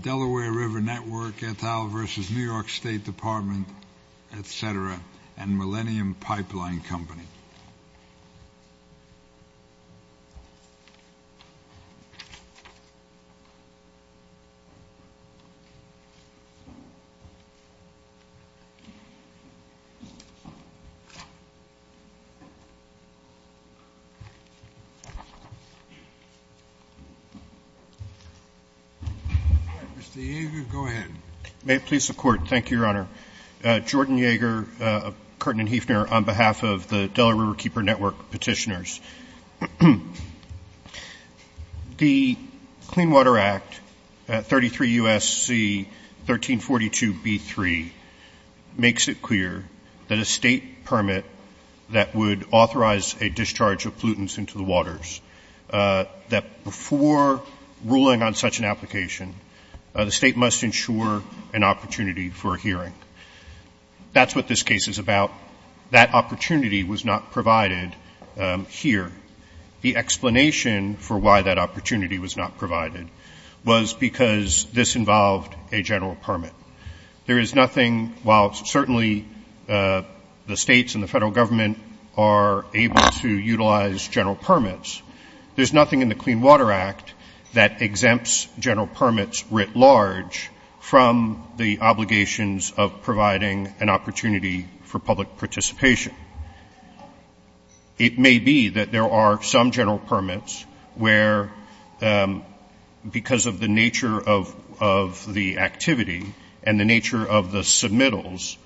Delaware River Network, et al, versus New York State Department, et cetera, and Millennium Pipeline Company. Mr. Yeager, go ahead. May it please the Court. Thank you, Your Honor. Jordan Yeager of Curtin & Hefner on behalf of the Delaware Riverkeeper Network petitioners. The Clean Water Act, 33 U.S.C. 1342b3, makes it clear that a state permit that would authorize a discharge of pollutants into the waters, that before ruling on such an application, the state must ensure an opportunity for a hearing. That's what this case is about. That opportunity was not provided here. The explanation for why that opportunity was not provided was because this involved a general permit. There is nothing, while certainly the states and the federal government are able to utilize general permits, there's nothing in the Clean Water Act that exempts general permits writ large from the obligations of providing an opportunity for public participation. It may be that there are some general permits where, because of the nature of the activity and the nature of the submittals,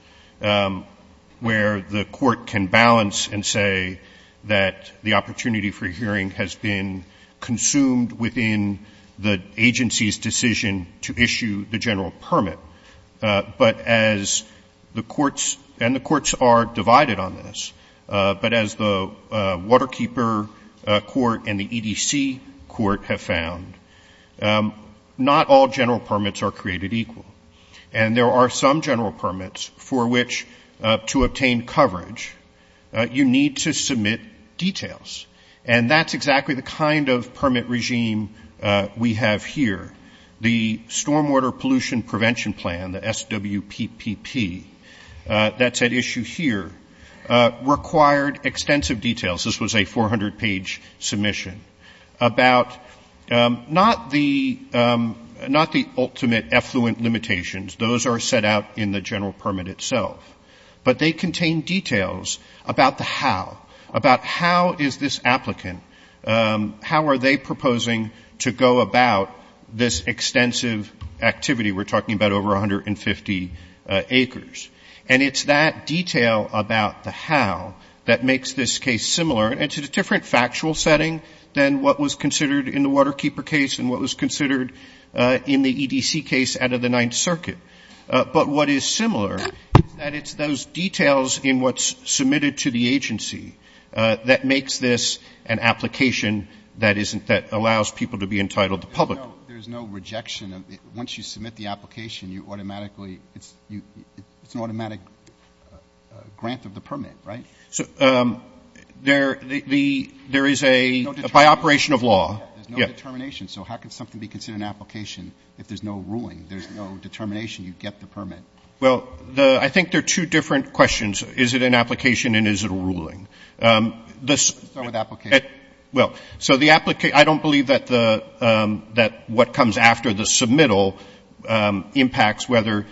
where the Court can balance and say that the opportunity for hearing has been consumed within the agency's decision to issue the general permit. But as the courts, and the courts are divided on this, but as the Waterkeeper Court and the EDC Court have found, not all general permits are created equal. And there are some general permits for which, to obtain coverage, you need to submit details. And that's exactly the kind of permit regime we have here. The Stormwater Pollution Prevention Plan, the SWPPP, that's at issue here, required extensive details. This was a 400-page submission about not the ultimate effluent limitations. Those are set out in the general permit itself. But they contain details about the how, about how is this applicant, how are they proposing to go about this extensive activity. We're talking about over 150 acres. And it's that detail about the how that makes this case similar. It's a different factual setting than what was considered in the Waterkeeper case and what was considered in the EDC case out of the Ninth Circuit. But what is similar is that it's those details in what's submitted to the agency that makes this an application that isn't, that allows people to be entitled to public. Roberts. There's no rejection. Once you submit the application, you automatically, it's an automatic grant of the permit, right? There is a, by operation of law. There's no determination. So how can something be considered an application if there's no ruling? There's no determination. You get the permit. Well, the, I think there are two different questions. Is it an application and is it a ruling? Let's start with application. Well, so the, I don't believe that the, that what comes after the submittal impacts whether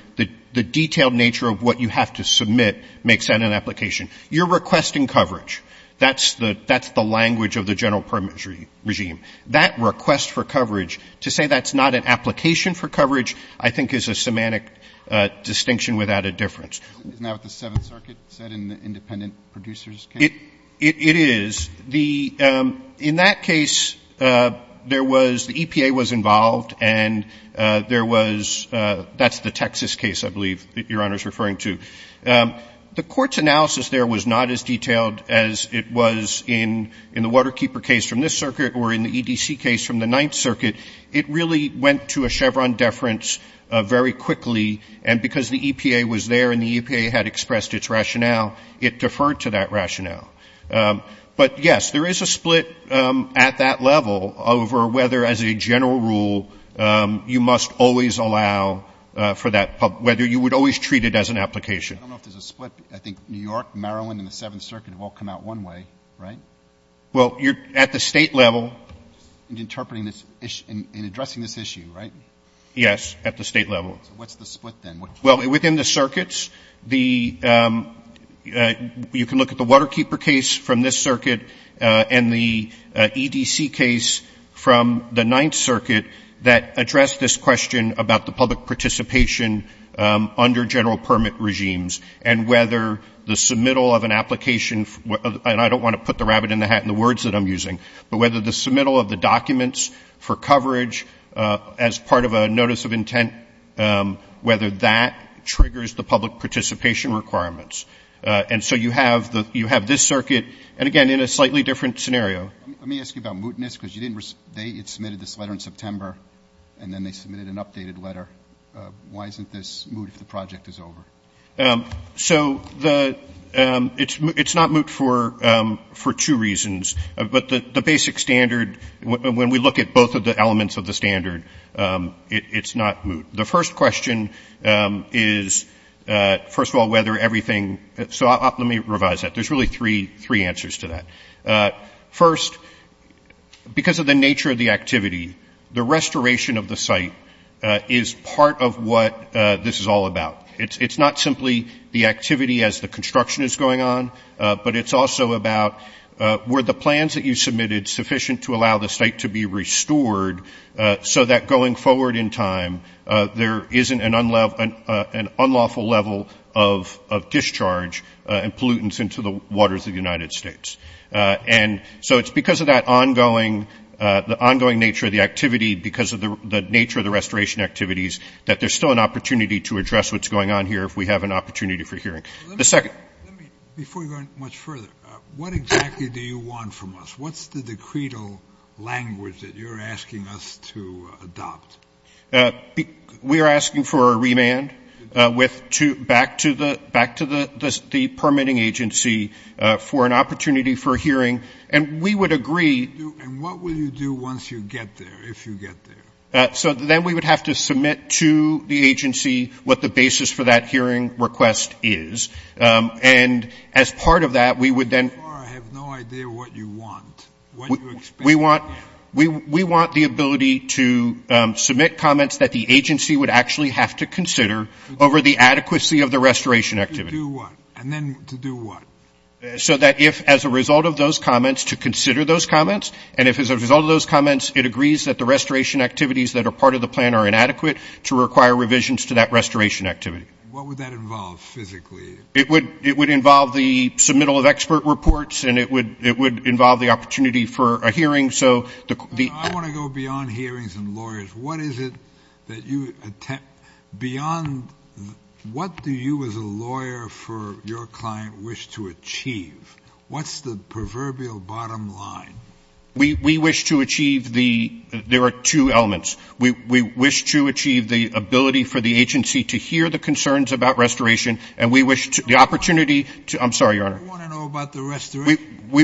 the detailed nature of what you have to submit makes that an application. You're requesting coverage. That's the language of the general permit regime. That request for coverage, to say that's not an application for coverage, I think is a semantic distinction without a difference. Isn't that what the Seventh Circuit said in the independent producer's case? It is. The, in that case, there was, the EPA was involved and there was, that's the Texas case, I believe, that Your Honor is referring to. The Court's analysis there was not as detailed as it was in the Waterkeeper case from this circuit or in the EDC case from the Ninth Circuit. It really went to a Chevron deference very quickly, and because the EPA was there and the EPA had expressed its rationale, it deferred to that rationale. But, yes, there is a split at that level over whether, as a general rule, you must always allow for that, whether you would always treat it as an application. I don't know if there's a split. I think New York, Maryland, and the Seventh Circuit have all come out one way, right? Well, at the State level. In interpreting this issue, in addressing this issue, right? Yes, at the State level. So what's the split then? Well, within the circuits, the, you can look at the Waterkeeper case from this circuit and the EDC case from the Ninth Circuit that addressed this question about the public participation under general permit regimes and whether the submittal of an application, and I don't want to put the rabbit in the hat in the words that I'm using, but whether the submittal of the documents for coverage as part of a notice of intent, whether that triggers the public participation requirements. And so you have this circuit, and again, in a slightly different scenario. Let me ask you about mootness, because you didn't, they had submitted this letter in September, and then they submitted an updated letter. Why isn't this moot if the project is over? So the, it's not moot for two reasons. But the basic standard, when we look at both of the elements of the standard, it's not moot. The first question is, first of all, whether everything, so let me revise that. There's really three answers to that. First, because of the nature of the activity, the restoration of the site is part of what this is all about. It's not simply the activity as the construction is going on, but it's also about, were the plans that you submitted sufficient to allow the site to be restored so that going forward in time, there isn't an unlawful level of discharge and pollutants into the waters of the United States. And so it's because of that ongoing, the ongoing nature of the activity, because of the nature of the restoration activities, that there's still an opportunity to address what's going on here if we have an opportunity for hearing. Let me, before you go much further, what exactly do you want from us? What's the decretal language that you're asking us to adopt? We are asking for a remand back to the permitting agency for an opportunity for hearing. And we would agree. And what will you do once you get there, if you get there? So then we would have to submit to the agency what the basis for that hearing request is. And as part of that, we would then. I have no idea what you want, what you expect. We want the ability to submit comments that the agency would actually have to consider over the adequacy of the restoration activity. To do what? And then to do what? So that if, as a result of those comments, to consider those comments. And if as a result of those comments, it agrees that the restoration activities that are part of the plan are inadequate, to require revisions to that restoration activity. What would that involve, physically? It would involve the submittal of expert reports. And it would involve the opportunity for a hearing. I want to go beyond hearings and lawyers. What is it that you attempt, beyond, what do you as a lawyer for your client wish to achieve? What's the proverbial bottom line? We wish to achieve the, there are two elements. We wish to achieve the ability for the agency to hear the concerns about restoration. And we wish to, the opportunity to, I'm sorry, Your Honor. We want to know about the restoration. To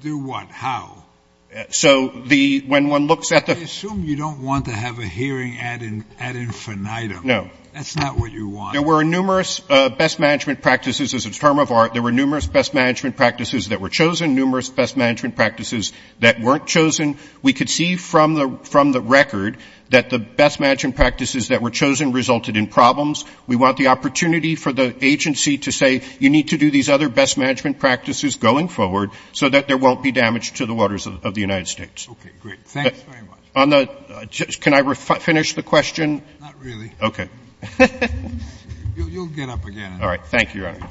do what? How? So the, when one looks at the. I assume you don't want to have a hearing ad infinitum. No. That's not what you want. There were numerous best management practices. As a term of art, there were numerous best management practices that were chosen. Numerous best management practices that weren't chosen. We could see from the record that the best management practices that were chosen resulted in problems. We want the opportunity for the agency to say you need to do these other best management practices going forward so that there won't be damage to the waters of the United States. Okay, great. Thanks very much. On the, can I finish the question? Not really. Okay. You'll get up again. All right. Thank you, Your Honor.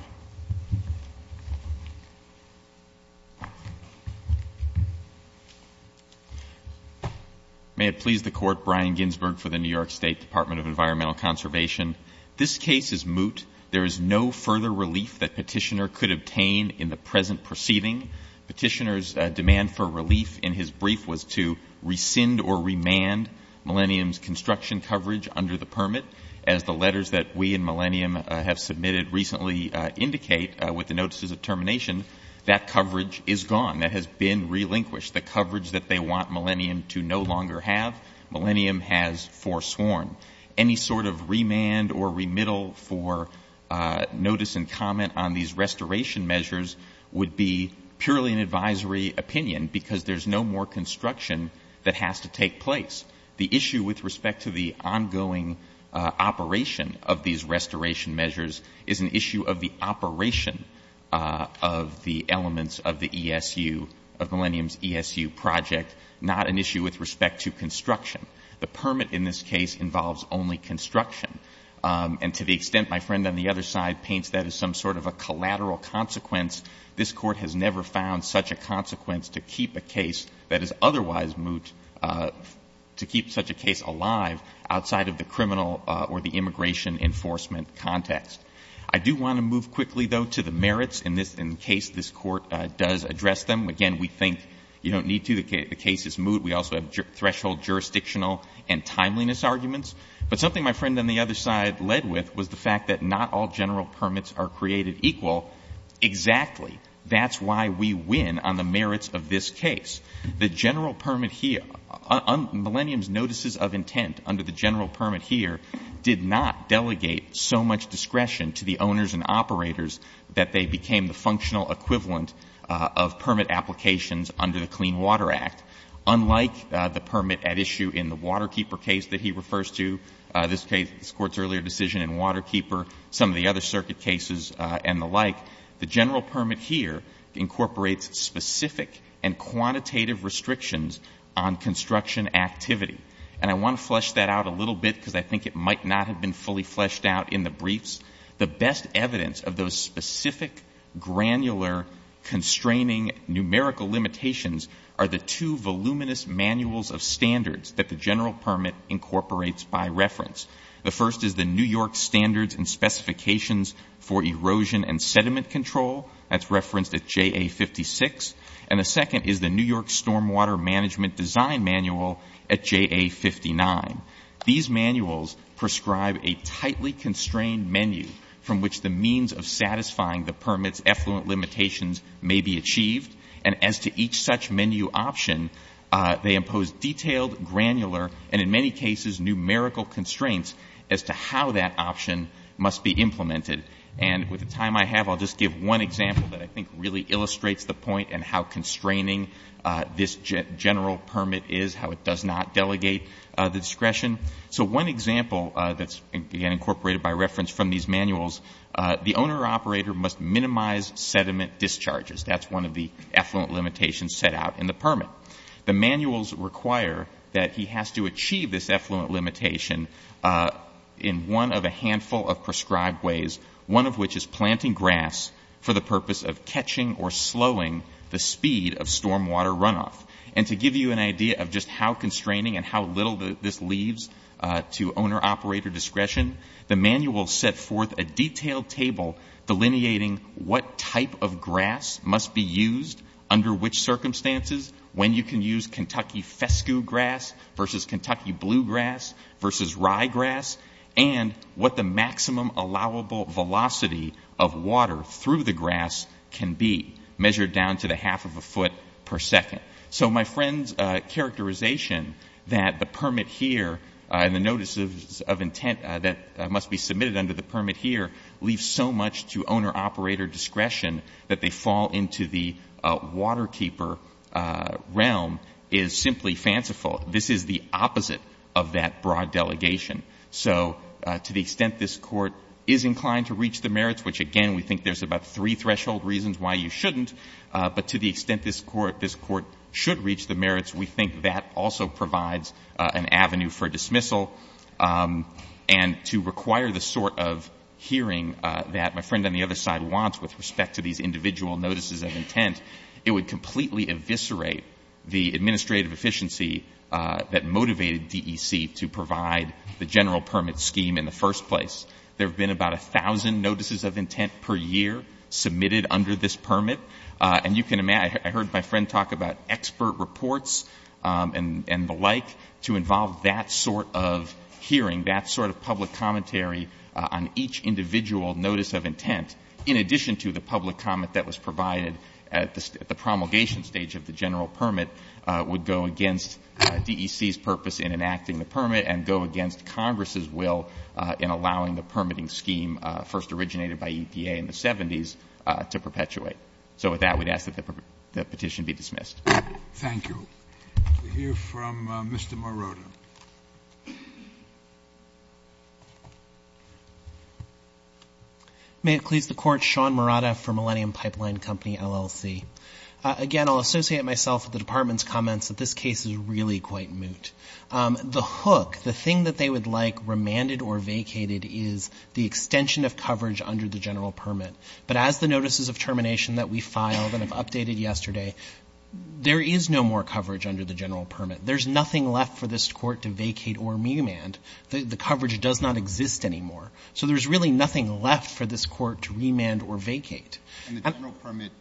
May it please the Court. Brian Ginsberg for the New York State Department of Environmental Conservation. This case is moot. There is no further relief that Petitioner could obtain in the present proceeding. Petitioner's demand for relief in his brief was to rescind or remand Millennium's construction coverage under the permit. As the letters that we and Millennium have submitted recently indicate with the notices of termination, that coverage is gone. That has been relinquished. The coverage that they want Millennium to no longer have, Millennium has forsworn. Any sort of remand or remittal for notice and comment on these restoration measures would be purely an advisory opinion because there's no more construction that has to take place. The issue with respect to the ongoing operation of these restoration measures is an issue of the operation of the elements of the ESU, of Millennium's ESU project, not an issue with respect to construction. The permit in this case involves only construction. And to the extent my friend on the other side paints that as some sort of a collateral consequence, this Court has never found such a consequence to keep a case that is otherwise moot, to keep such a case alive outside of the criminal or the immigration enforcement context. I do want to move quickly, though, to the merits in this case, this Court does address them. Again, we think you don't need to. The case is moot. We also have threshold jurisdictional and timeliness arguments. But something my friend on the other side led with was the fact that not all general permits are created equal. Exactly. That's why we win on the merits of this case. The general permit here, Millennium's notices of intent under the general permit here did not delegate so much discretion to the owners and operators that they became the functional equivalent of permit applications under the Clean Water Act, unlike the permit at issue in the Waterkeeper case that he refers to, this Court's earlier decision in Waterkeeper, some of the other circuit cases and the like. The general permit here incorporates specific and quantitative restrictions on construction activity. And I want to flesh that out a little bit because I think it might not have been fully fleshed out in the briefs. The best evidence of those specific, granular, constraining numerical limitations are the two voluminous manuals of standards that the general permit incorporates by reference. The first is the New York Standards and Specifications for Erosion and Sediment Control. That's referenced at JA56. And the second is the New York Stormwater Management Design Manual at JA59. These manuals prescribe a tightly constrained menu from which the means of satisfying the permit's effluent limitations may be achieved. And as to each such menu option, they impose detailed, granular, and in many cases, numerical constraints as to how that option must be implemented. And with the time I have, I'll just give one example that I think really illustrates the point and how constraining this general permit is, how it does not delegate the discretion. So one example that's, again, incorporated by reference from these manuals, the owner or operator must minimize sediment discharges. That's one of the effluent limitations set out in the permit. The manuals require that he has to achieve this effluent limitation in one of a handful of prescribed ways, one of which is planting grass for the purpose of catching or slowing the speed of stormwater runoff. And to give you an idea of just how constraining and how little this leaves to owner-operator discretion, the manuals set forth a detailed table delineating what type of grass must be used under which circumstances, when you can use Kentucky fescue grass versus Kentucky bluegrass versus ryegrass, and what the maximum allowable velocity of water through the grass can be, measured down to the half of a foot per second. So my friend's characterization that the permit here and the notices of intent that must be submitted under the permit here leave so much to owner-operator discretion that they fall into the waterkeeper realm is simply fanciful. This is the opposite of that broad delegation. So to the extent this Court is inclined to reach the merits, which again we think there's about three threshold reasons why you shouldn't, but to the extent this Court should reach the merits, we think that also provides an avenue for dismissal. And to require the sort of hearing that my friend on the other side wants with respect to these individual notices of intent, it would completely eviscerate the administrative efficiency that motivated DEC to provide the general permit scheme in the first place. There have been about a thousand notices of intent per year submitted under this permit. And you can imagine, I heard my friend talk about expert reports and the like to involve that sort of hearing, that sort of public commentary on each individual notice of intent, in addition to the public comment that was provided at the promulgation stage of the general permit, would go against DEC's purpose in enacting the permit and go against Congress's will in allowing the permitting scheme, first originated by EPA in the 70s, to perpetuate. So with that, we'd ask that the petition be dismissed. Thank you. We'll hear from Mr. Morota. Thank you. May it please the Court, Sean Morota for Millennium Pipeline Company, LLC. Again, I'll associate myself with the Department's comments that this case is really quite moot. The hook, the thing that they would like remanded or vacated is the extension of coverage under the general permit. But as the notices of termination that we filed and have updated yesterday, there is no more coverage under the general permit. There's nothing left for this Court to vacate or remand. The coverage does not exist anymore. So there's really nothing left for this Court to remand or vacate. And the general permit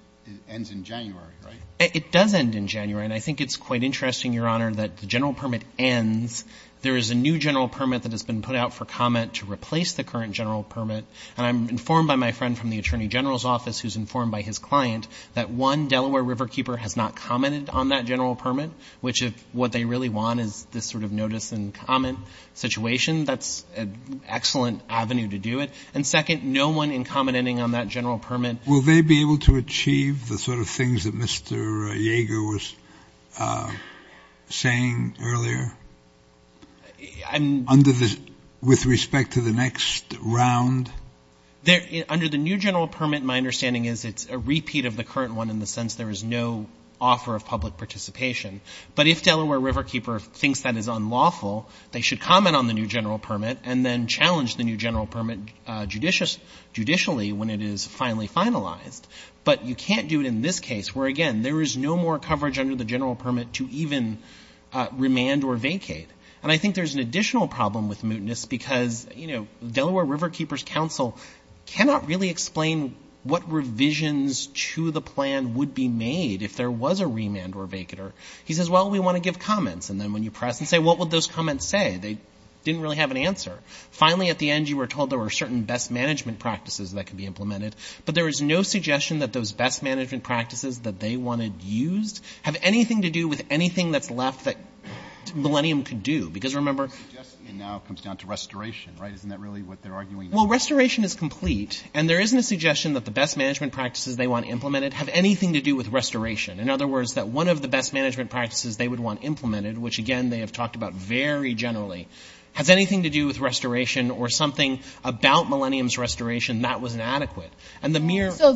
ends in January, right? It does end in January. And I think it's quite interesting, Your Honor, that the general permit ends. There is a new general permit that has been put out for comment to replace the current general permit. And I'm informed by my friend from the Attorney General's office, who's informed by his client, that, one, Delaware Riverkeeper has not commented on that general permit, which if what they really want is this sort of notice and comment situation, that's an excellent avenue to do it. And, second, no one in commenting on that general permit. Will they be able to achieve the sort of things that Mr. Yeager was saying earlier? Under the – with respect to the next round? Under the new general permit, my understanding is it's a repeat of the current one in the sense there is no offer of public participation. But if Delaware Riverkeeper thinks that is unlawful, they should comment on the new general permit and then challenge the new general permit judicially when it is finally finalized. But you can't do it in this case where, again, there is no more coverage under the general permit to even remand or vacate. And I think there's an additional problem with mootness because, you know, Delaware Riverkeeper's counsel cannot really explain what revisions to the plan would be made if there was a remand or vacater. He says, well, we want to give comments. And then when you press and say, what would those comments say? They didn't really have an answer. Finally, at the end, you were told there were certain best management practices that could be implemented. But there is no suggestion that those best management practices that they wanted used have anything to do with anything that's left that Millennium could do. Because remember — The suggestion now comes down to restoration, right? Isn't that really what they're arguing now? Well, restoration is complete. And there isn't a suggestion that the best management practices they want implemented have anything to do with restoration. In other words, that one of the best management practices they would want implemented, which, again, they have talked about very generally, has anything to do with restoration or something about Millennium's restoration that was inadequate. And the mere — So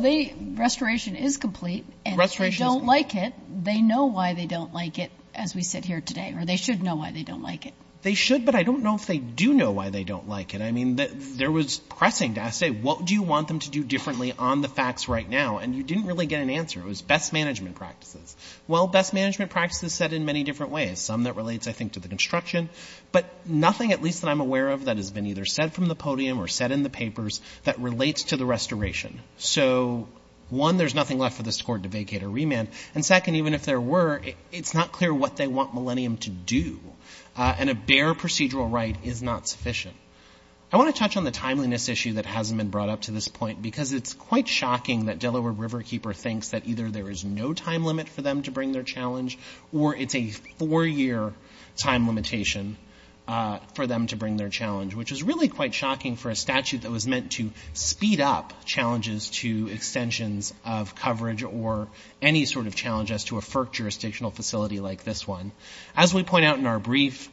restoration is complete. And if they don't like it, they know why they don't like it, as we sit here today. Or they should know why they don't like it. They should, but I don't know if they do know why they don't like it. I mean, there was pressing to say, what do you want them to do differently on the facts right now? And you didn't really get an answer. It was best management practices. Well, best management practices said in many different ways, some that relates, I think, to the construction, but nothing, at least that I'm aware of, that has been either said from the podium or said in the papers that relates to the restoration. So, one, there's nothing left for this court to vacate or remand. And second, even if there were, it's not clear what they want Millennium to do. And a bare procedural right is not sufficient. I want to touch on the timeliness issue that hasn't been brought up to this point because it's quite shocking that Delaware Riverkeeper thinks that either there is no time limit for them to bring their challenge or it's a four-year time limitation for them to bring their challenge, which is really quite shocking for a statute that was meant to speed up challenges to extensions of coverage or any sort of challenge as to a FERC jurisdictional facility like this one. As we point out in our brief,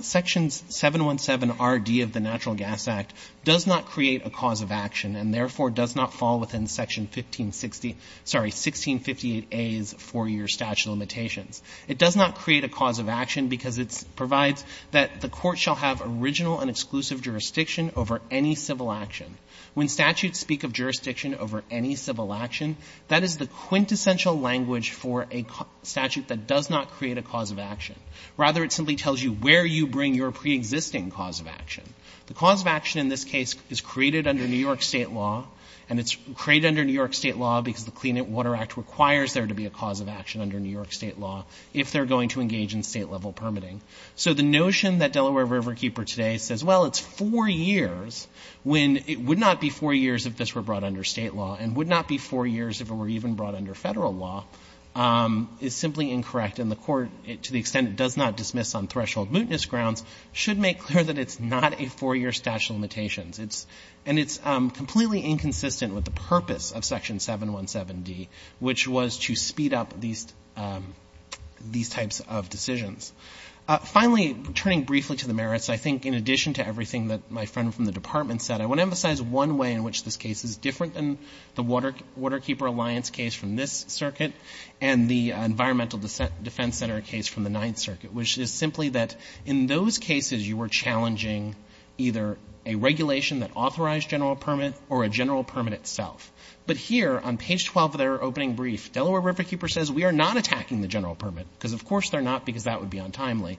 Sections 717RD of the Natural Gas Act does not create a cause of action and therefore does not fall within Section 1658A's four-year statute of limitations. It does not create a cause of action because it provides that the court shall have original and exclusive jurisdiction over any civil action. When statutes speak of jurisdiction over any civil action, that is the quintessential language for a statute that does not create a cause of action. Rather, it simply tells you where you bring your preexisting cause of action. The cause of action in this case is created under New York State law, and it's created under New York State law because the Clean Water Act requires there to be a cause of action under New York State law if they're going to engage in state-level permitting. So the notion that Delaware Riverkeeper today says, well, it's four years, when it would not be four years if this were brought under state law and would not be four years if it were even brought under federal law, is simply incorrect. And the court, to the extent it does not dismiss on threshold mootness grounds, should make clear that it's not a four-year statute of limitations. And it's completely inconsistent with the purpose of Section 717D, which was to speed up these types of decisions. Finally, turning briefly to the merits, I think in addition to everything that my friend from the Department said, I want to emphasize one way in which this case is different than the Waterkeeper Alliance case from this circuit and the Environmental Defense Center case from the Ninth Circuit, which is simply that in those cases you were challenging either a regulation that authorized general permit or a general permit itself. But here on page 12 of their opening brief, Delaware Riverkeeper says, we are not attacking the general permit, because of course they're not, because that would be untimely.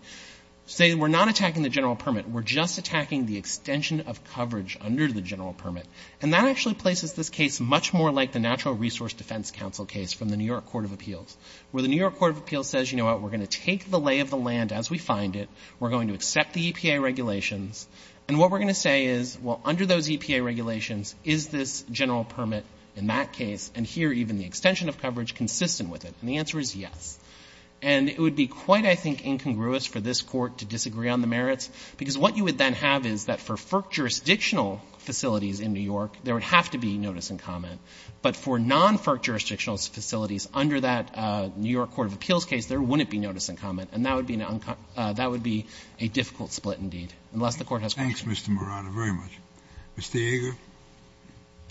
Say we're not attacking the general permit. We're just attacking the extension of coverage under the general permit. And that actually places this case much more like the Natural Resource Defense Council case from the New York Court of Appeals, where the New York Court of Appeals says, you know what, we're going to take the lay of the land as we find it. We're going to accept the EPA regulations. And what we're going to say is, well, under those EPA regulations, is this general permit in that case, and here even the extension of coverage, consistent with it? And the answer is yes. And it would be quite, I think, incongruous for this Court to disagree on the merits, because what you would then have is that for FERC jurisdictional facilities in New York, there would have to be notice and comment. And in this case, there wouldn't be notice and comment, and that would be a difficult split indeed, unless the Court has questions. Scalia. Thanks, Mr. Murano, very much. Mr. Yeager.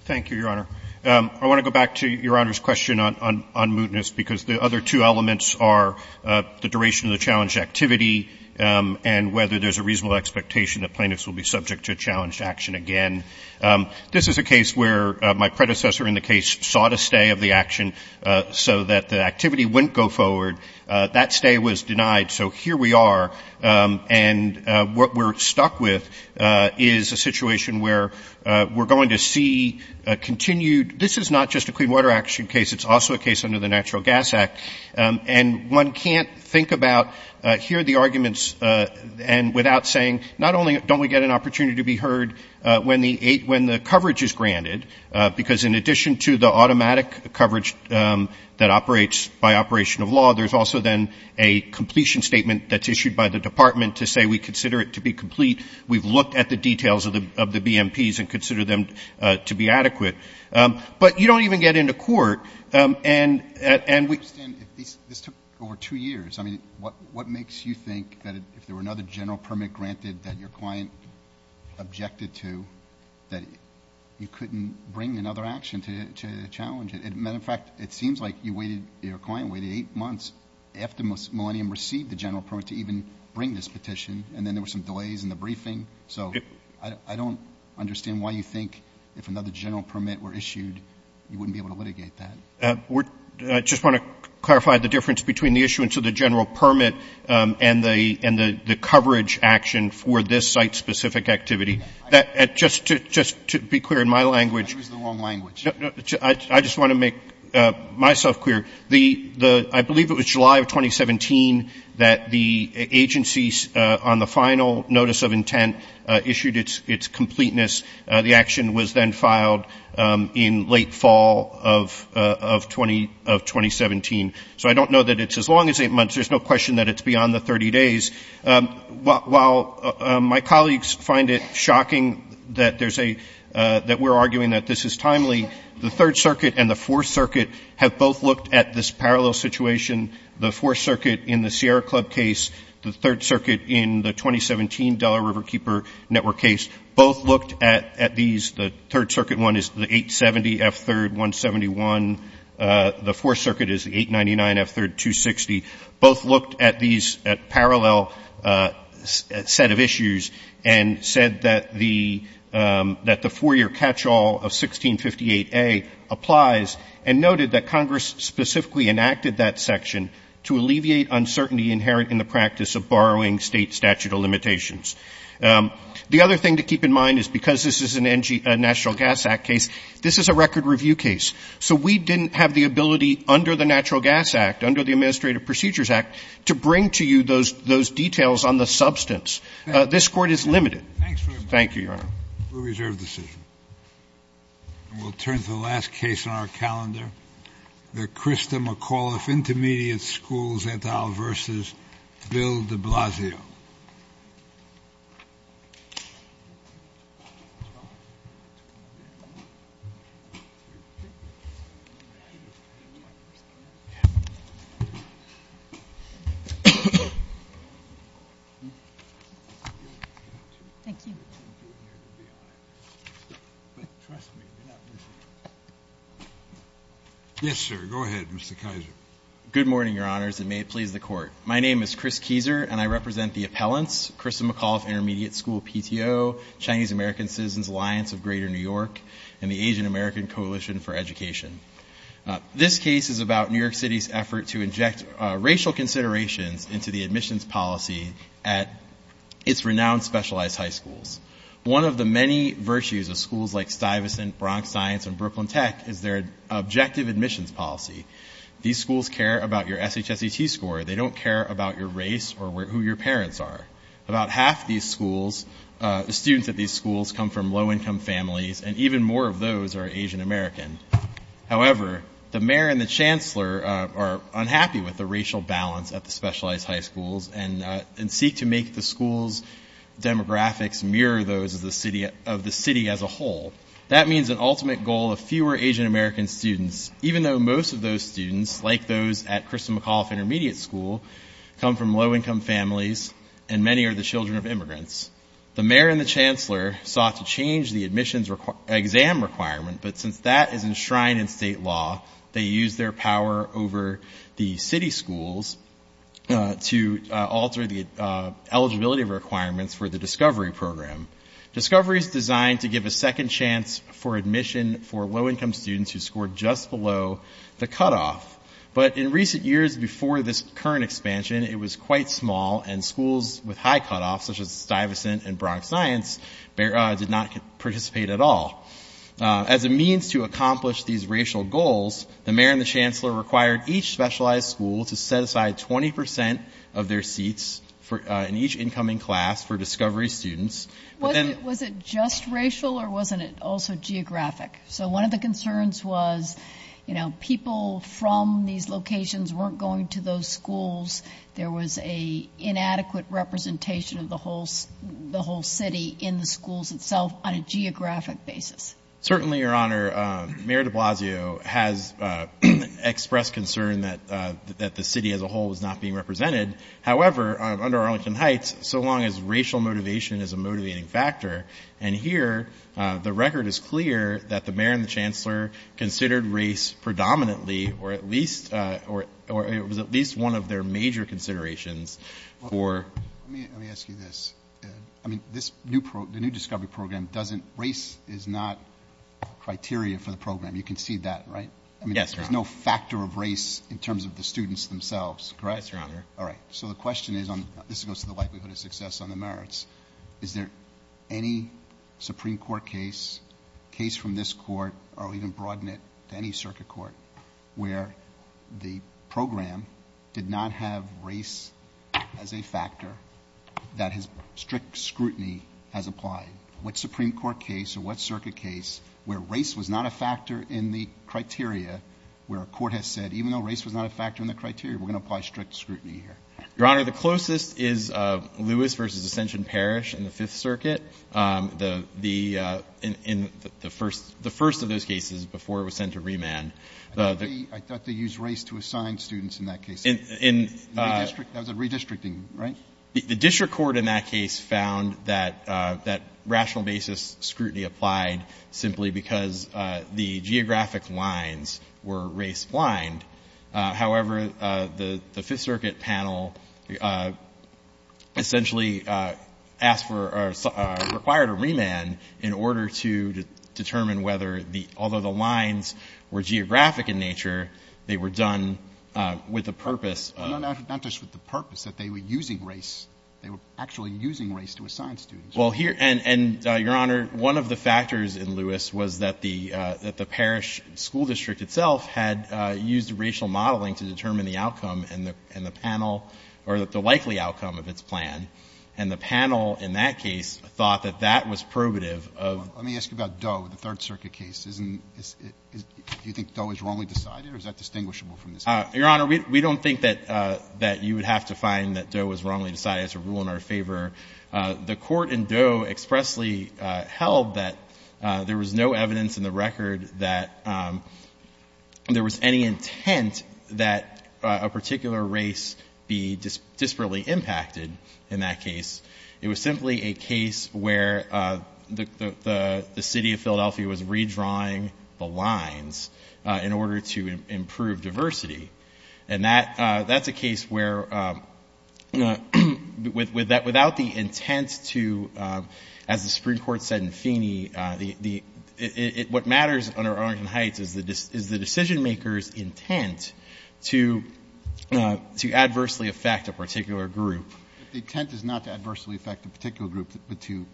Thank you, Your Honor. I want to go back to Your Honor's question on mootness, because the other two elements are the duration of the challenged activity and whether there's a reasonable expectation that plaintiffs will be subject to challenged action again. This is a case where my predecessor in the case sought a stay of the action so that the activity wouldn't go forward. That stay was denied. So here we are. And what we're stuck with is a situation where we're going to see a continued – this is not just a Clean Water Action case. It's also a case under the Natural Gas Act. And one can't think about here the arguments and without saying not only don't we get an opportunity to be heard when the coverage is granted, because in addition to the automatic coverage that operates by operation of law, there's also then a completion statement that's issued by the Department to say we consider it to be complete. We've looked at the details of the BMPs and consider them to be adequate. But you don't even get into court. And we – I understand. This took over two years. I mean, what makes you think that if there were another general permit granted that your client objected to, that you couldn't bring another action to challenge it? Matter of fact, it seems like your client waited eight months after Millennium received the general permit to even bring this petition, and then there were some delays in the briefing. So I don't understand why you think if another general permit were issued, you wouldn't be able to litigate that. I just want to clarify the difference between the issuance of the general permit and the coverage action for this site-specific activity. Just to be clear, in my language – I used the wrong language. I just want to make myself clear. I believe it was July of 2017 that the agency, on the final notice of intent, issued its completeness. The action was then filed in late fall of 2017. So I don't know that it's as long as eight months. There's no question that it's beyond the 30 days. While my colleagues find it shocking that we're arguing that this is timely, the Third Circuit and the Fourth Circuit have both looked at this parallel situation. The Fourth Circuit in the Sierra Club case, the Third Circuit in the 2017 Delaware Riverkeeper Network case, both looked at these. The Third Circuit one is the 870F3-171. The Fourth Circuit is the 899F3-260. Both looked at these at parallel set of issues and said that the four-year catch-all of 1658A applies and noted that Congress specifically enacted that section to alleviate uncertainty inherent in the practice of borrowing state statute of limitations. The other thing to keep in mind is because this is a National Gas Act case, this is a record review case. So we didn't have the ability under the Natural Gas Act, under the Administrative Procedures Act, to bring to you those details on the substance. This Court is limited. Thank you, Your Honor. We'll reserve the decision. We'll turn to the last case on our calendar, the Krista McAuliffe Intermediate School Zantal v. Bill de Blasio. Yes, sir. Go ahead, Mr. Keiser. Good morning, Your Honors, and may it please the Court. My name is Chris Keiser, and I represent the appellants, Krista McAuliffe Intermediate School PTO, Chinese American Citizens Alliance of Greater New York, and the Asian American Coalition for Education. This case is about New York City's effort to inject racial considerations into the admissions policy at its renowned specialized high schools. One of the many virtues of schools like Stuyvesant, Bronx Science, and Brooklyn Tech is their objective admissions policy. These schools care about your SHSET score. They don't care about your race or who your parents are. About half the students at these schools come from low-income families, and even more of those are Asian American. However, the mayor and the chancellor are unhappy with the racial balance at the specialized high schools and seek to make the school's demographics mirror those of the city as a whole. That means an ultimate goal of fewer Asian American students, even though most of those students, like those at Krista McAuliffe Intermediate School, come from low-income families, and many are the children of immigrants. The mayor and the chancellor sought to change the admissions exam requirement, but since that is enshrined in state law, they used their power over the city schools to alter the eligibility requirements for the Discovery Program. Discovery is designed to give a second chance for admission for low-income students who scored just below the cutoff, but in recent years before this current expansion, it was quite small and schools with high cutoffs, such as Stuyvesant and Bronx Science, did not participate at all. As a means to accomplish these racial goals, the mayor and the chancellor required each specialized school to set aside 20% of their seats in each incoming class for Discovery students Was it just racial or wasn't it also geographic? So one of the concerns was, you know, people from these locations weren't going to those schools. There was an inadequate representation of the whole city in the schools itself on a geographic basis. Certainly, Your Honor, Mayor de Blasio has expressed concern that the city as a whole was not being represented. However, under Arlington Heights, so long as racial motivation is a motivating factor, and here the record is clear that the mayor and the chancellor considered race predominantly or it was at least one of their major considerations for Let me ask you this. The new Discovery Program, race is not criteria for the program. You can see that, right? Yes, Your Honor. There's no factor of race in terms of the students themselves, correct? Yes, Your Honor. All right. So the question is, this goes to the likelihood of success on the merits. Is there any Supreme Court case, case from this court, or even broaden it to any circuit court, where the program did not have race as a factor that strict scrutiny has applied? What Supreme Court case or what circuit case where race was not a factor in the criteria, where a court has said, even though race was not a factor in the criteria, we're going to apply strict scrutiny here? Your Honor, the closest is Lewis v. Ascension Parish in the Fifth Circuit. The first of those cases before it was sent to remand. I thought they used race to assign students in that case. That was a redistricting, right? The district court in that case found that rational basis scrutiny applied simply because the geographic lines were race-blind. However, the Fifth Circuit panel essentially asked for or required a remand in order to determine whether the — although the lines were geographic in nature, they were done with the purpose of — No, not just with the purpose, that they were using race. They were actually using race to assign students. Well, here — and, Your Honor, one of the factors in Lewis was that the — that the district court used racial modeling to determine the outcome and the panel — or the likely outcome of its plan. And the panel in that case thought that that was probative of — Let me ask you about Doe, the Third Circuit case. Isn't — do you think Doe was wrongly decided, or is that distinguishable from this case? Your Honor, we don't think that you would have to find that Doe was wrongly decided. It's a rule in our favor. The court in Doe expressly held that there was no evidence in the record that there was any intent that a particular race be disparately impacted in that case. It was simply a case where the City of Philadelphia was redrawing the lines in order to improve diversity. And that's a case where without the intent to — as the Supreme Court said in Feeney, what matters under Arlington Heights is the decision-maker's intent to adversely affect a particular group. But the intent is not to adversely affect a particular group, but to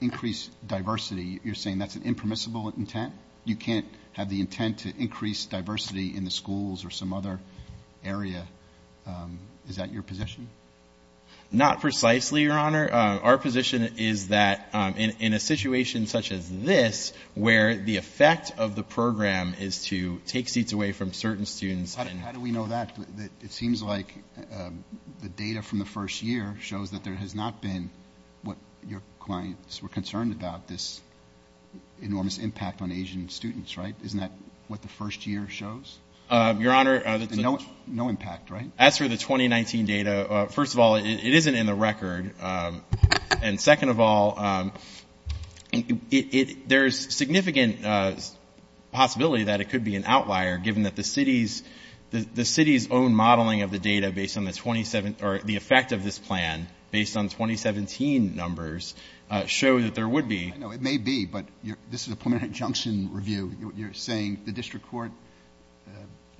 increase diversity. You're saying that's an impermissible intent? You can't have the intent to increase diversity in the schools or some other area. Is that your position? Not precisely, Your Honor. Our position is that in a situation such as this, where the effect of the program is to take seats away from certain students — How do we know that? It seems like the data from the first year shows that there has not been what your clients were concerned about, this enormous impact on Asian students, right? Isn't that what the first year shows? Your Honor — No impact, right? As for the 2019 data, first of all, it isn't in the record. And second of all, there is significant possibility that it could be an outlier, given that the city's own modeling of the data based on the effect of this plan, based on 2017 numbers, show that there would be — I know it may be, but this is a preliminary injunction review. You're saying the district court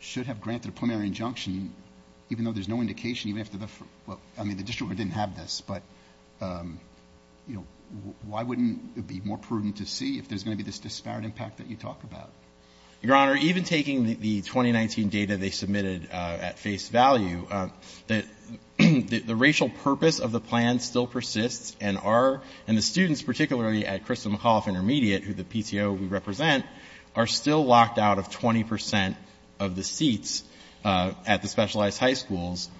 should have granted a preliminary injunction, even though there's no indication, even if the — well, I mean, the district court didn't have this, but, you know, why wouldn't it be more prudent to see if there's going to be this disparate impact that you talk about? Your Honor, even taking the 2019 data they submitted at face value, the racial purpose of the plan still persists and our — the PTO we represent are still locked out of 20 percent of the seats at the specialized high schools.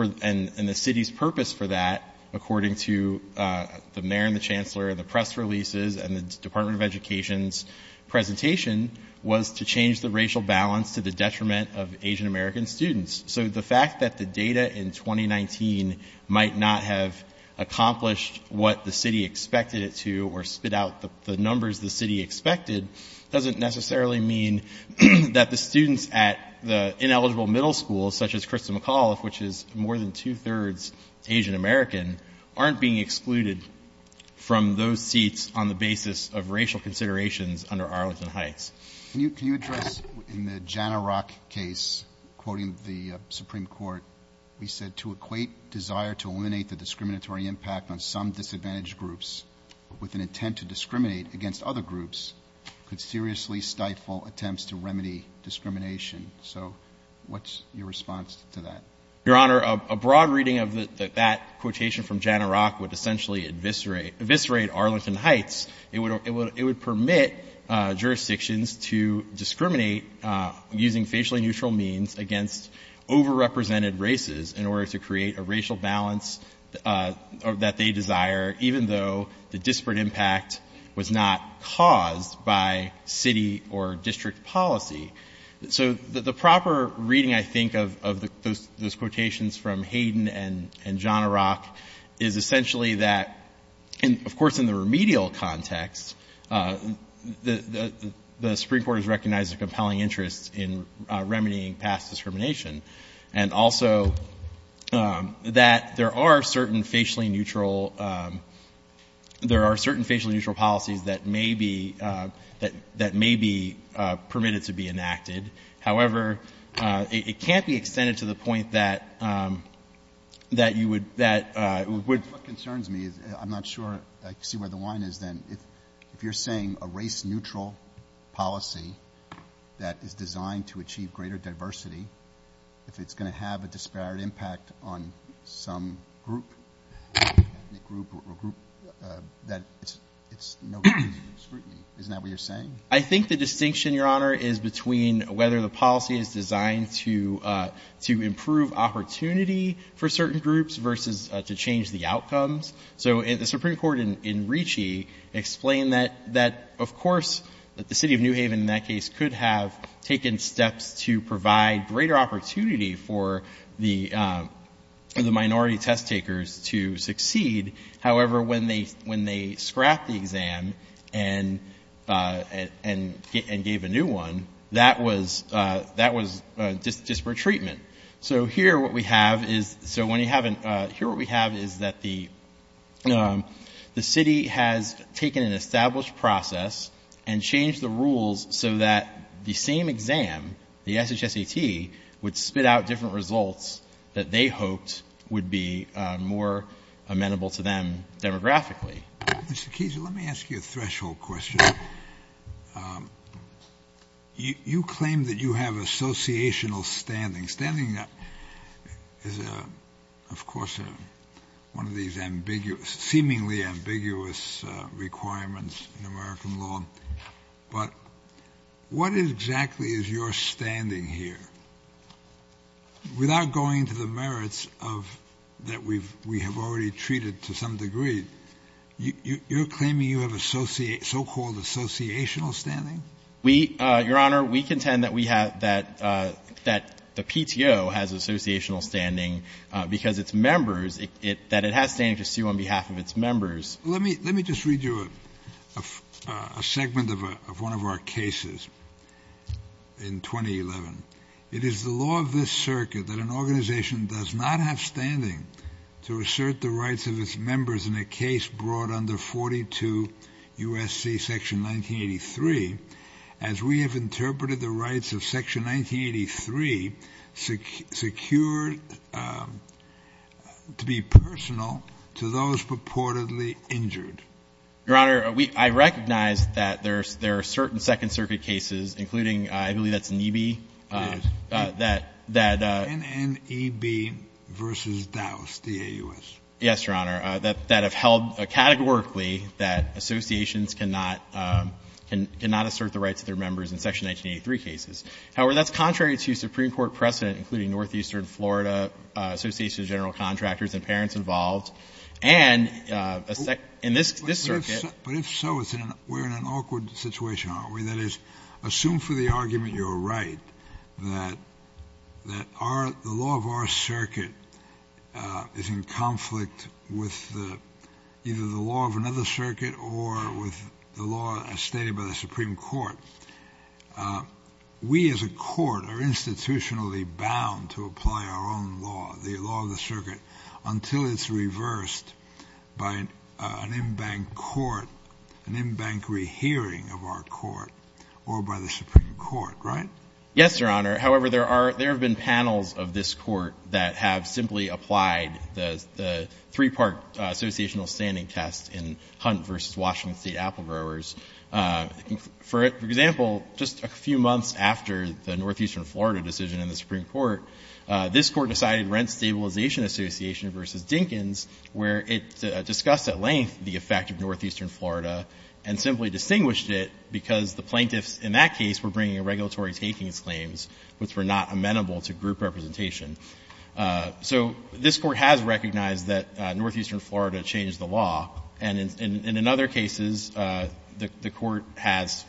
And the city's purpose for that, according to the mayor and the chancellor and the press releases and the Department of Education's presentation, was to change the racial balance to the detriment of Asian-American students. So the fact that the data in 2019 might not have accomplished what the city expected it to or spit out the numbers the city expected doesn't necessarily mean that the students at the ineligible middle schools, such as Krista McAuliffe, which is more than two-thirds Asian-American, aren't being excluded from those seats on the basis of racial considerations under Arlington Heights. Can you address — in the Jana Rock case, quoting the Supreme Court, we said, to equate desire to eliminate the discriminatory impact on some disadvantaged groups with an intent to discriminate against other groups could seriously stifle attempts to remedy discrimination. So what's your response to that? Your Honor, a broad reading of that quotation from Jana Rock would essentially eviscerate Arlington Heights. It would permit jurisdictions to discriminate using facially neutral means against overrepresented races in order to create a racial balance that they desire, even though the disparate impact was not caused by city or district policy. So the proper reading, I think, of those quotations from Hayden and Jana Rock is essentially that — and, of course, in the remedial context, the Supreme Court has recognized a compelling interest in remedying past discrimination and also that there are certain facially neutral — there are certain facially neutral policies that may be — that may be permitted to be enacted. However, it can't be extended to the point that you would — that would — I see where the line is then. If you're saying a race-neutral policy that is designed to achieve greater diversity, if it's going to have a disparate impact on some group, ethnic group or group, that it's no good scrutiny. Isn't that what you're saying? I think the distinction, Your Honor, is between whether the policy is designed to improve opportunity for certain groups versus to change the outcomes. So the Supreme Court in Ricci explained that, of course, that the city of New Haven in that case could have taken steps to provide greater opportunity for the minority test takers to succeed. However, when they scrapped the exam and gave a new one, that was disparate treatment. So here what we have is — so when you have — here what we have is that the city has taken an established process and changed the rules so that the same exam, the SHSAT, would spit out different results that they hoped would be more amenable to them demographically. Mr. Keese, let me ask you a threshold question. You claim that you have associational standing. Standing is, of course, one of these ambiguous — seemingly ambiguous requirements in American law. But what exactly is your standing here? Without going to the merits of — that we have already treated to some degree, you're claiming you have so-called associational standing? We — Your Honor, we contend that we have — that the PTO has associational standing because its members — that it has standing to sue on behalf of its members. Let me just read you a segment of one of our cases in 2011. It is the law of this circuit that an organization does not have standing to assert the rights of its members in a case brought under 42 U.S.C. Section 1983 as we have interpreted the rights of Section 1983 secured to be personal to those purportedly injured. Your Honor, we — I recognize that there are certain Second Circuit cases, including — I believe that's NEB. Yes. That — that — NNEB v. Dowse, D-A-U-S. Yes, Your Honor. That have held categorically that associations cannot — cannot assert the rights of their members in Section 1983 cases. However, that's contrary to Supreme Court precedent, including Northeastern Florida Association of General Contractors and parents involved. And in this circuit — But if so, we're in an awkward situation, aren't we? That is, assume for the argument you're right that our — the law of our circuit is in conflict with either the law of another circuit or with the law as stated by the Supreme Court. We as a court are institutionally bound to apply our own law, the law of the circuit, until it's reversed by an in-bank court, an in-bank rehearing of our court or by the Supreme Court. Right? Yes, Your Honor. However, there are — there have been panels of this court that have simply applied the three-part associational standing test in Hunt v. Washington State Apple Growers. For example, just a few months after the Northeastern Florida decision in the Supreme Court, this Court decided Rent Stabilization Association v. Dinkins, where it discussed at length the effect of Northeastern Florida and simply distinguished it because the plaintiffs in that case were bringing a regulatory takings claims which were not amenable to group representation. So this Court has recognized that Northeastern Florida changed the law. And in other cases, the Court has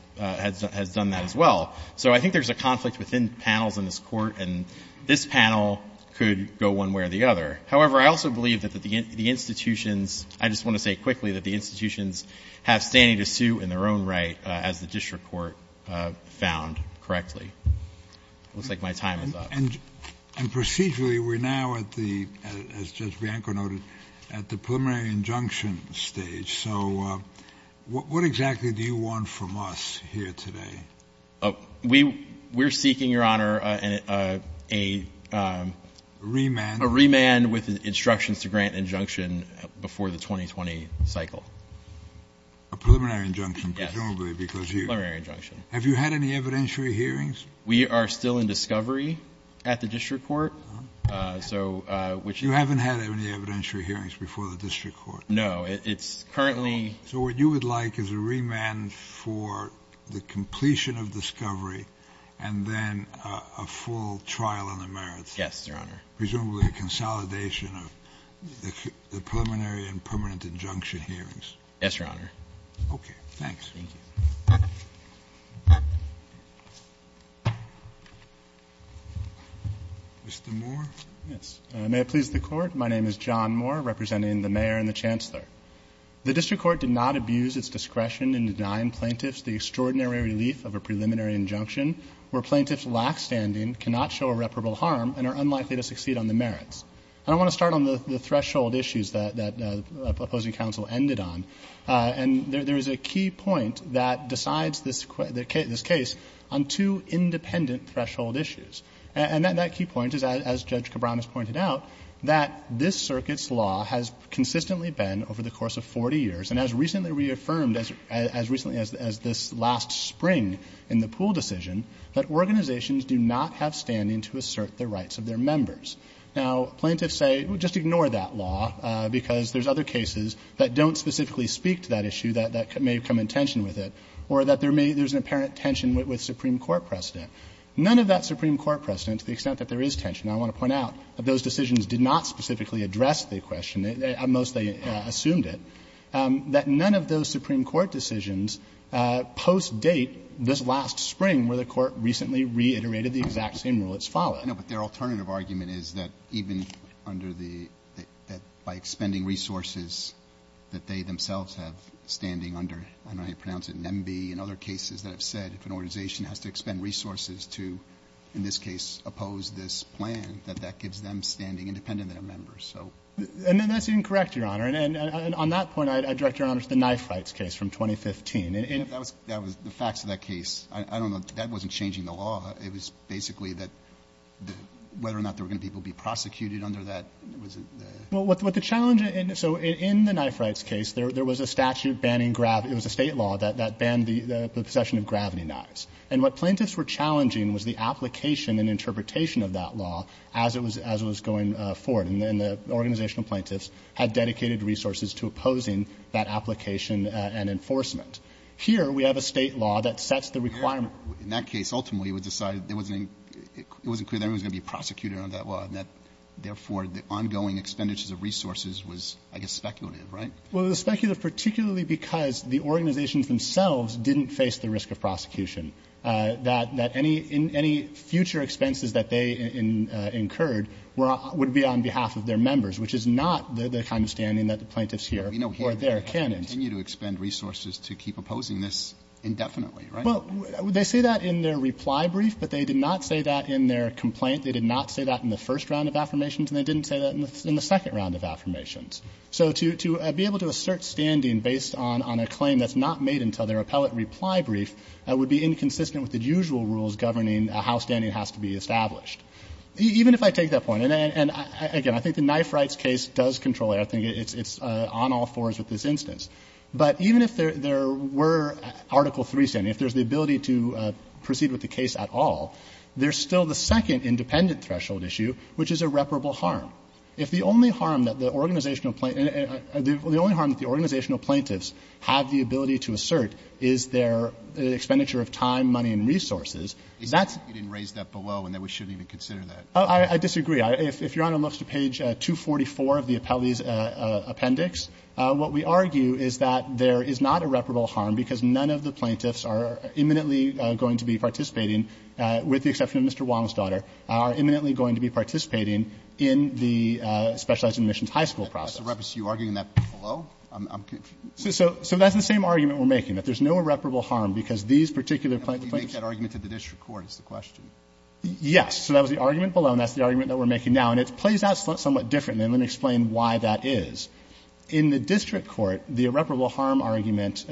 done that as well. So I think there's a conflict within panels in this Court, and this panel could go one way or the other. However, I also believe that the institutions — I just want to say quickly that the institutions have standing to suit in their own right, as the district court found correctly. It looks like my time is up. And procedurally, we're now at the — as Judge Bianco noted, at the preliminary injunction stage. So what exactly do you want from us here today? We're seeking, Your Honor, a — A remand? A remand with instructions to grant injunction before the 2020 cycle. A preliminary injunction, presumably, because you — Yes, a preliminary injunction. Have you had any evidentiary hearings? We are still in discovery at the district court. Oh. So — You haven't had any evidentiary hearings before the district court? No. It's currently — So what you would like is a remand for the completion of discovery, and then a full trial on the merits. Yes, Your Honor. Presumably a consolidation of the preliminary and permanent injunction hearings. Yes, Your Honor. Okay. Thanks. Thank you. Mr. Moore. Yes. May it please the Court. My name is John Moore, representing the mayor and the chancellor. The district court did not abuse its discretion in denying plaintiffs the extraordinary relief of a preliminary injunction where plaintiffs' lackstanding cannot show irreparable harm and are unlikely to succeed on the merits. And I want to start on the threshold issues that the opposing counsel ended on. And there is a key point that decides this case on two independent threshold issues. And that key point is, as Judge Cabran has pointed out, that this circuit's law has consistently been, over the course of 40 years, and as recently reaffirmed as this last spring in the Poole decision, that organizations do not have standing to assert the rights of their members. Now, plaintiffs say, well, just ignore that law, because there's other cases that don't specifically speak to that issue that may come in tension with it, or that there's an apparent tension with Supreme Court precedent. None of that Supreme Court precedent, to the extent that there is tension, I want to point out that those decisions did not specifically address the question, they mostly assumed it, that none of those Supreme Court decisions post-date this last spring where the Court recently reiterated the exact same rule that's followed. Roberts. I know, but their alternative argument is that even under the, that by expending resources that they themselves have standing under, I don't know how you pronounce it, NEMB, and other cases that have said if an organization has to expend resources to, in this case, oppose this plan, that that gives them standing independent of their members, so. And that's incorrect, Your Honor. And on that point, I direct Your Honor to the knife rights case from 2015. That was the facts of that case. I don't know. That wasn't changing the law. It was basically that whether or not there were going to be people prosecuted under that was the. Well, what the challenge in, so in the knife rights case, there was a statute banning, it was a State law that banned the possession of gravity knives. And what plaintiffs were challenging was the application and interpretation of that law as it was going forward. And the organizational plaintiffs had dedicated resources to opposing that application and enforcement. Here we have a State law that sets the requirement. In that case, ultimately, it was decided it wasn't clear that anyone was going to be prosecuted under that law, and that, therefore, the ongoing expenditures of resources was, I guess, speculative, right? face the risk of prosecution. That any future expenses that they incurred would be on behalf of their members, which is not the kind of standing that the plaintiffs hear or their candidates. But we know here they continue to expend resources to keep opposing this indefinitely, right? Well, they say that in their reply brief, but they did not say that in their complaint. They did not say that in the first round of affirmations, and they didn't say that in the second round of affirmations. So to be able to assert standing based on a claim that's not made until their appellate reply brief would be inconsistent with the usual rules governing how standing has to be established. Even if I take that point, and again, I think the Knife Rights case does control it. I think it's on all fours with this instance. But even if there were Article III standing, if there's the ability to proceed with the case at all, there's still the second independent threshold issue, which is irreparable harm. If the only harm that the organizational plaintiffs have the ability to assert is their expenditure of time, money, and resources, that's. Alito, you didn't raise that below and that we shouldn't even consider that. I disagree. If Your Honor looks to page 244 of the appellee's appendix, what we argue is that there is not irreparable harm, because none of the plaintiffs are imminently going to be participating, with the exception of Mr. Wong's daughter, are imminently going to be participating in the specialized admissions high school process. Are you arguing that below? I'm confused. So that's the same argument we're making, that there's no irreparable harm, because these particular plaintiffs. You make that argument at the district court, is the question. Yes. So that was the argument below, and that's the argument that we're making now. And it plays out somewhat differently, and let me explain why that is. In the district court, the irreparable harm argument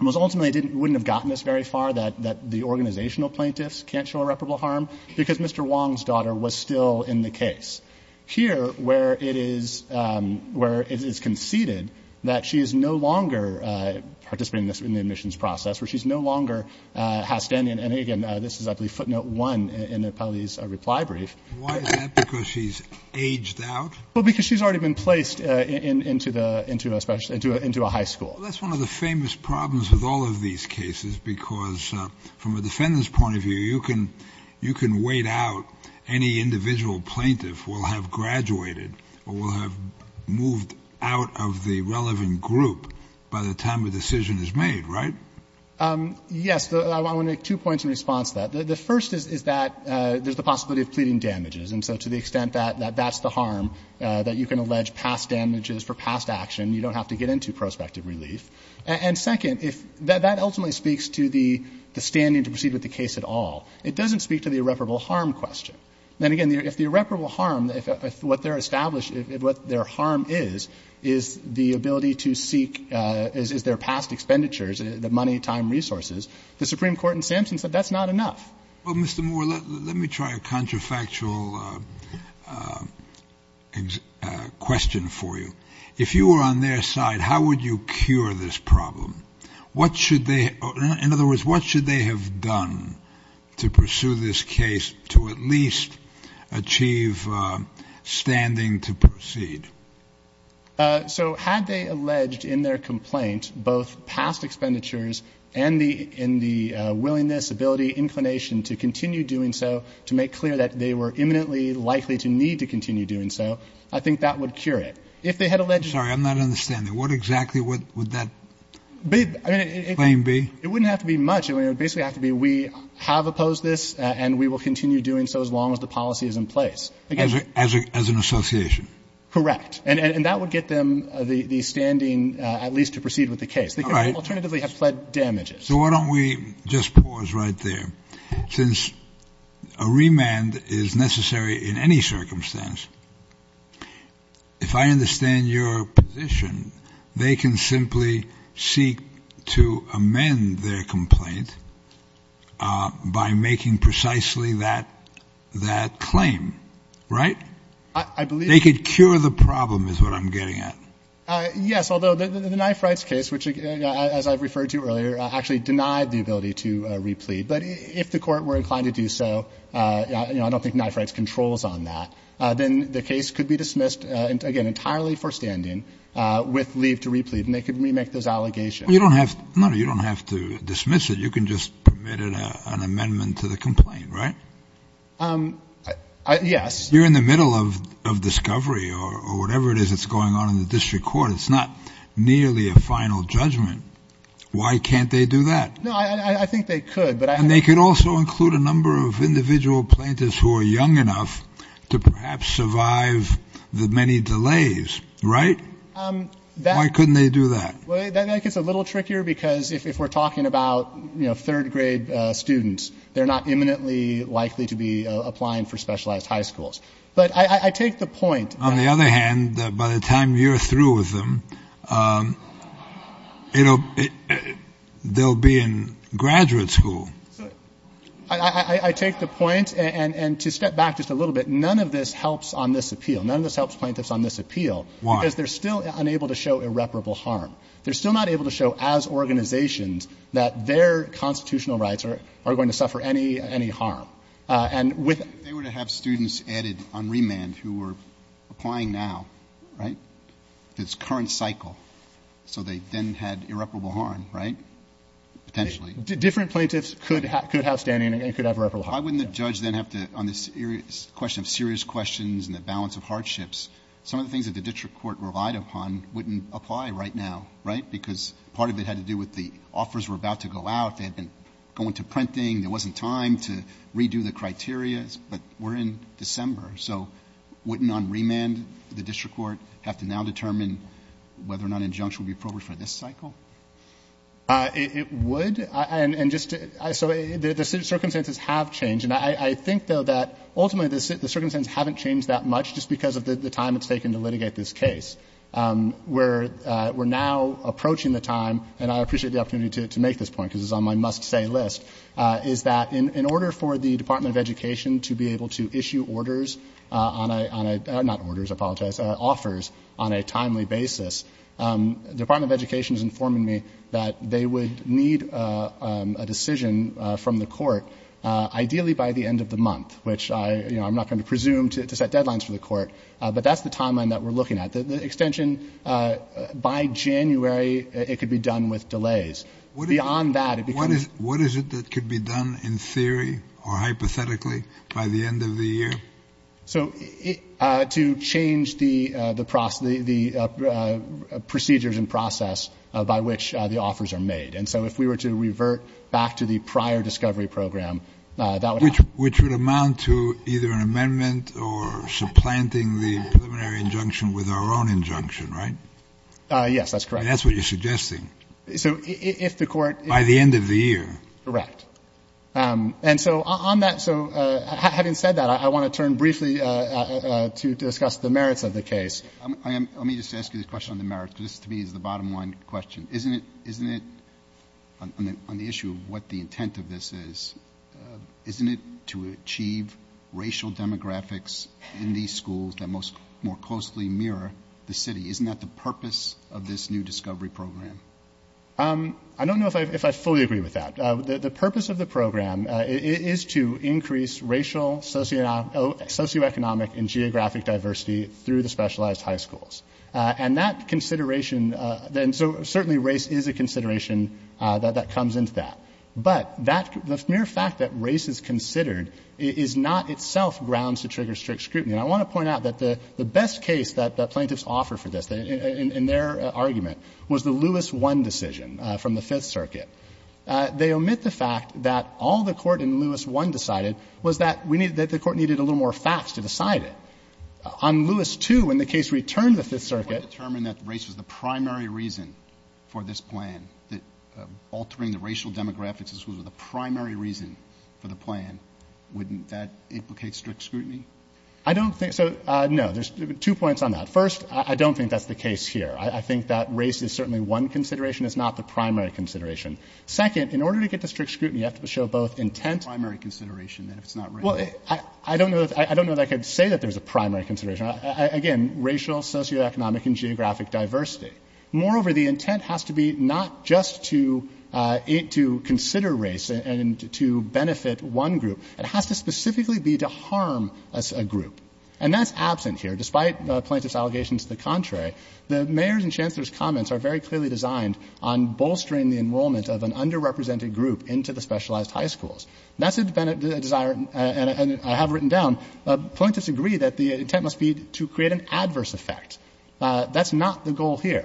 was ultimately wouldn't have gotten us very far, that the organizational plaintiffs can't show irreparable harm, because Mr. Wong's daughter was still in the case. Here, where it is conceded that she is no longer participating in the admissions process, where she's no longer outstanding, and again, this is I believe footnote one in the appellee's reply brief. Why is that? Because she's aged out? Well, because she's already been placed into a high school. That's one of the famous problems with all of these cases, because from a defendant's point of view, you can wait out any individual plaintiff who will have graduated or will have moved out of the relevant group by the time a decision is made, right? Yes. I want to make two points in response to that. The first is that there's the possibility of pleading damages, and so to the extent that that's the harm, that you can allege past damages for past action. You don't have to get into prospective relief. And second, that ultimately speaks to the standing to proceed with the case at all. It doesn't speak to the irreparable harm question. Then again, if the irreparable harm, if what they're established, what their harm is, is the ability to seek, is their past expenditures, the money, time, resources, the Supreme Court in Sampson said that's not enough. Well, Mr. Moore, let me try a contrafactual question for you. If you were on their side, how would you cure this problem? What should they, in other words, what should they have done to pursue this case to at least achieve standing to proceed? So had they alleged in their complaint both past expenditures and the willingness, ability, inclination to continue doing so, to make clear that they were imminently likely to need to continue doing so, I think that would cure it. If they had alleged I'm sorry, I'm not understanding. What exactly would that claim be? It wouldn't have to be much. It would basically have to be we have opposed this and we will continue doing so as long as the policy is in place. As an association? Correct. And that would get them the standing at least to proceed with the case. They could alternatively have pled damages. So why don't we just pause right there. Since a remand is necessary in any circumstance, if I understand your position, they can simply seek to amend their complaint by making precisely that claim, right? I believe They could cure the problem is what I'm getting at. Yes, although the knife rights case, which as I've referred to earlier, actually denied the ability to replead. But if the court were inclined to do so, I don't think knife rights controls on that. Then the case could be dismissed again entirely for standing with leave to replead and they could remake those allegations. You don't have to dismiss it. You can just permit an amendment to the complaint, right? Yes. You're in the middle of discovery or whatever it is that's going on in the district It's not nearly a final judgment. Why can't they do that? No, I think they could. And they could also include a number of individual plaintiffs who are young enough to perhaps survive the many delays, right? Why couldn't they do that? That gets a little trickier because if we're talking about third grade students, they're not imminently likely to be applying for specialized high schools. But I take the point. On the other hand, by the time you're through with them, they'll be in graduate school. I take the point. And to step back just a little bit, none of this helps on this appeal. None of this helps plaintiffs on this appeal. Why? Because they're still unable to show irreparable harm. They're still not able to show as organizations that their constitutional rights are going to suffer any harm. And with If they were to have students added on remand who are applying now, right? It's current cycle. So they then had irreparable harm, right? Potentially. Different plaintiffs could have standing and could have irreparable harm. Why wouldn't the judge then have to, on this question of serious questions and the balance of hardships, some of the things that the district court relied upon wouldn't apply right now, right? Because part of it had to do with the offers were about to go out. They had been going to printing. There wasn't time to redo the criteria. But we're in December. So wouldn't on remand the district court have to now determine whether or not injunction would be appropriate for this cycle? It would. And just so the circumstances have changed. And I think, though, that ultimately the circumstances haven't changed that much just because of the time it's taken to litigate this case. We're now approaching the time, and I appreciate the opportunity to make this point because it's on my must-say list, is that in order for the Department of Education to be able to issue orders on a, not orders, I apologize, offers on a timely basis, the Department of Education is informing me that they would need a decision from the court ideally by the end of the month, which I'm not going to presume to set deadlines for the court. But that's the timeline that we're looking at. The extension by January, it could be done with delays. Beyond that, it becomes. What is it that could be done in theory or hypothetically by the end of the year? So to change the procedures and process by which the offers are made. And so if we were to revert back to the prior discovery program, that would happen. Which would amount to either an amendment or supplanting the preliminary injunction with our own injunction, right? Yes, that's correct. That's what you're suggesting. So if the court. By the end of the year. Correct. And so on that, so having said that, I want to turn briefly to discuss the merits of the case. Let me just ask you this question on the merits, because this to me is the bottom line question. Isn't it, isn't it, on the issue of what the intent of this is, isn't it to achieve racial demographics in these schools that most, more closely mirror the city? Isn't that the purpose of this new discovery program? I don't know if I fully agree with that. The purpose of the program is to increase racial, socioeconomic, and geographic diversity through the specialized high schools. And that consideration, and so certainly race is a consideration that comes into that. But the mere fact that race is considered is not itself grounds to trigger strict scrutiny. And I want to point out that the best case that plaintiffs offer for this, in their argument, was the Lewis I decision from the Fifth Circuit. They omit the fact that all the court in Lewis I decided was that we needed, that the court needed a little more facts to decide it. On Lewis II, when the case returned to the Fifth Circuit. If we want to determine that race was the primary reason for this plan, that altering the racial demographics was the primary reason for the plan, wouldn't that implicate strict scrutiny? I don't think so. No. There's two points on that. First, I don't think that's the case here. I think that race is certainly one consideration. It's not the primary consideration. Second, in order to get to strict scrutiny, you have to show both intent. Primary consideration, then, if it's not racial. Well, I don't know that I could say that there's a primary consideration. Again, racial, socioeconomic, and geographic diversity. Moreover, the intent has to be not just to consider race and to benefit one group. It has to specifically be to harm a group. And that's absent here. Despite plaintiff's allegations to the contrary, the mayor's and chancellor's comments are very clearly designed on bolstering the enrollment of an underrepresented group into the specialized high schools. That's a desire, and I have written down, plaintiffs agree that the intent must be to create an adverse effect. That's not the goal here.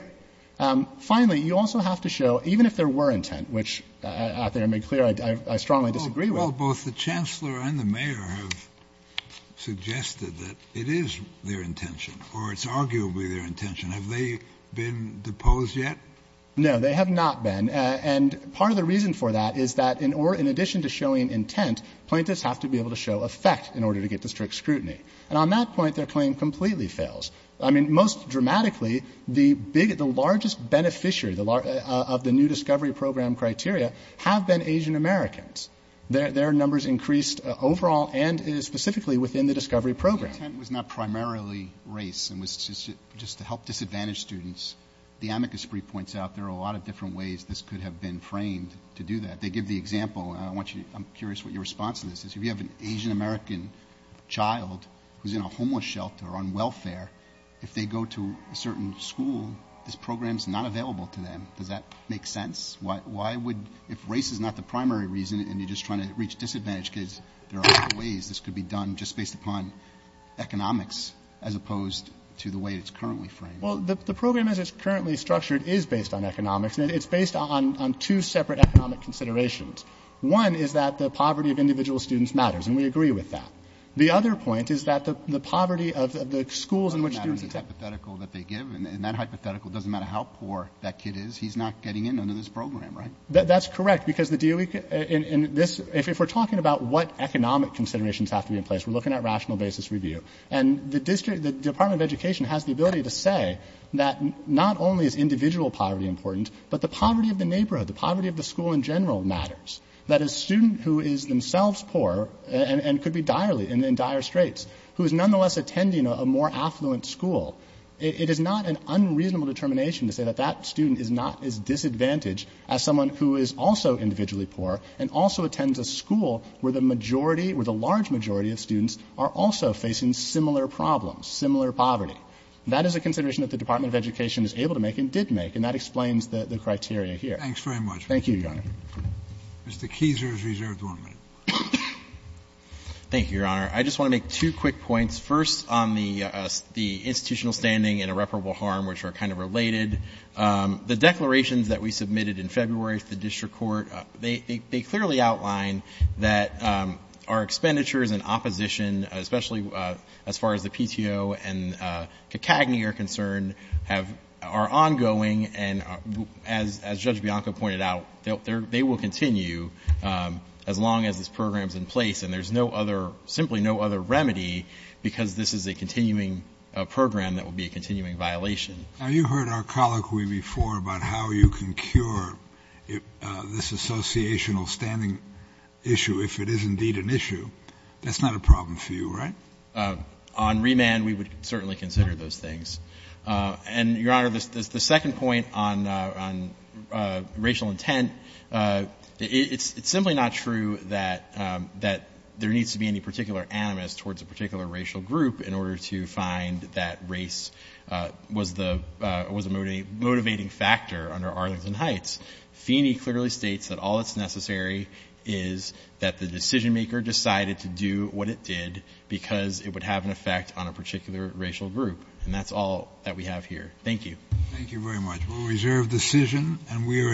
Finally, you also have to show, even if there were intent, which I think I made clear I strongly disagree with. Well, both the chancellor and the mayor have suggested that it is their intention, or it's arguably their intention. Have they been deposed yet? No, they have not been. And part of the reason for that is that in addition to showing intent, plaintiffs have to be able to show effect in order to get to strict scrutiny. And on that point, their claim completely fails. I mean, most dramatically, the largest beneficiary of the new discovery program criteria have been Asian Americans. Their numbers increased overall and specifically within the discovery program. The intent was not primarily race. It was just to help disadvantaged students. The amicus brief points out there are a lot of different ways this could have been framed to do that. They give the example, and I'm curious what your response to this is. If you have an Asian American child who's in a homeless shelter on welfare, if they go to a certain school, this program is not available to them. Does that make sense? Why would, if race is not the primary reason, and you're just trying to reach disadvantaged kids, there are other ways this could be done just based upon economics, as opposed to the way it's currently framed. Well, the program as it's currently structured is based on economics, and it's based on two separate economic considerations. One is that the poverty of individual students matters, and we agree with that. The other point is that the poverty of the schools in which students accept It doesn't matter in the hypothetical that they give. In that hypothetical, it doesn't matter how poor that kid is. He's not getting in under this program, right? That's correct, because the DOE, in this, if we're talking about what economic considerations have to be in place, we're looking at rational basis review. And the Department of Education has the ability to say that not only is individual poverty important, but the poverty of the neighborhood, the poverty of the school in general matters. That a student who is themselves poor and could be direly in dire straits, who is nonetheless attending a more affluent school, it is not an unreasonable determination to say that that student is not as disadvantaged as someone who is also individually poor and also attends a school where the majority or the large majority of students are also facing similar problems, similar poverty. That is a consideration that the Department of Education is able to make and did make, and that explains the criteria here. Thank you, Your Honor. Mr. Keiser is reserved one minute. Thank you, Your Honor. I just want to make two quick points. First, on the institutional standing and irreparable harm, which are kind of related, the declarations that we submitted in February to the district court, they clearly outline that our expenditures and opposition, especially as far as the PTO and CACAGNY are concerned, are ongoing. And as Judge Bianco pointed out, they will continue as long as this program is in place. And there's no other, simply no other remedy because this is a continuing program that will be a continuing violation. Now, you heard our colloquy before about how you can cure this associational standing issue if it is indeed an issue. That's not a problem for you, right? On remand, we would certainly consider those things. And, Your Honor, the second point on racial intent, it's simply not true that there needs to be any particular animus towards a particular racial group in order to find that race was a motivating factor under Arlington Heights. Feeney clearly states that all that's necessary is that the decision maker decided to do what it did because it would have an effect on a particular racial group. And that's all that we have here. Thank you. Thank you very much. We'll reserve decision, and we are adjourned.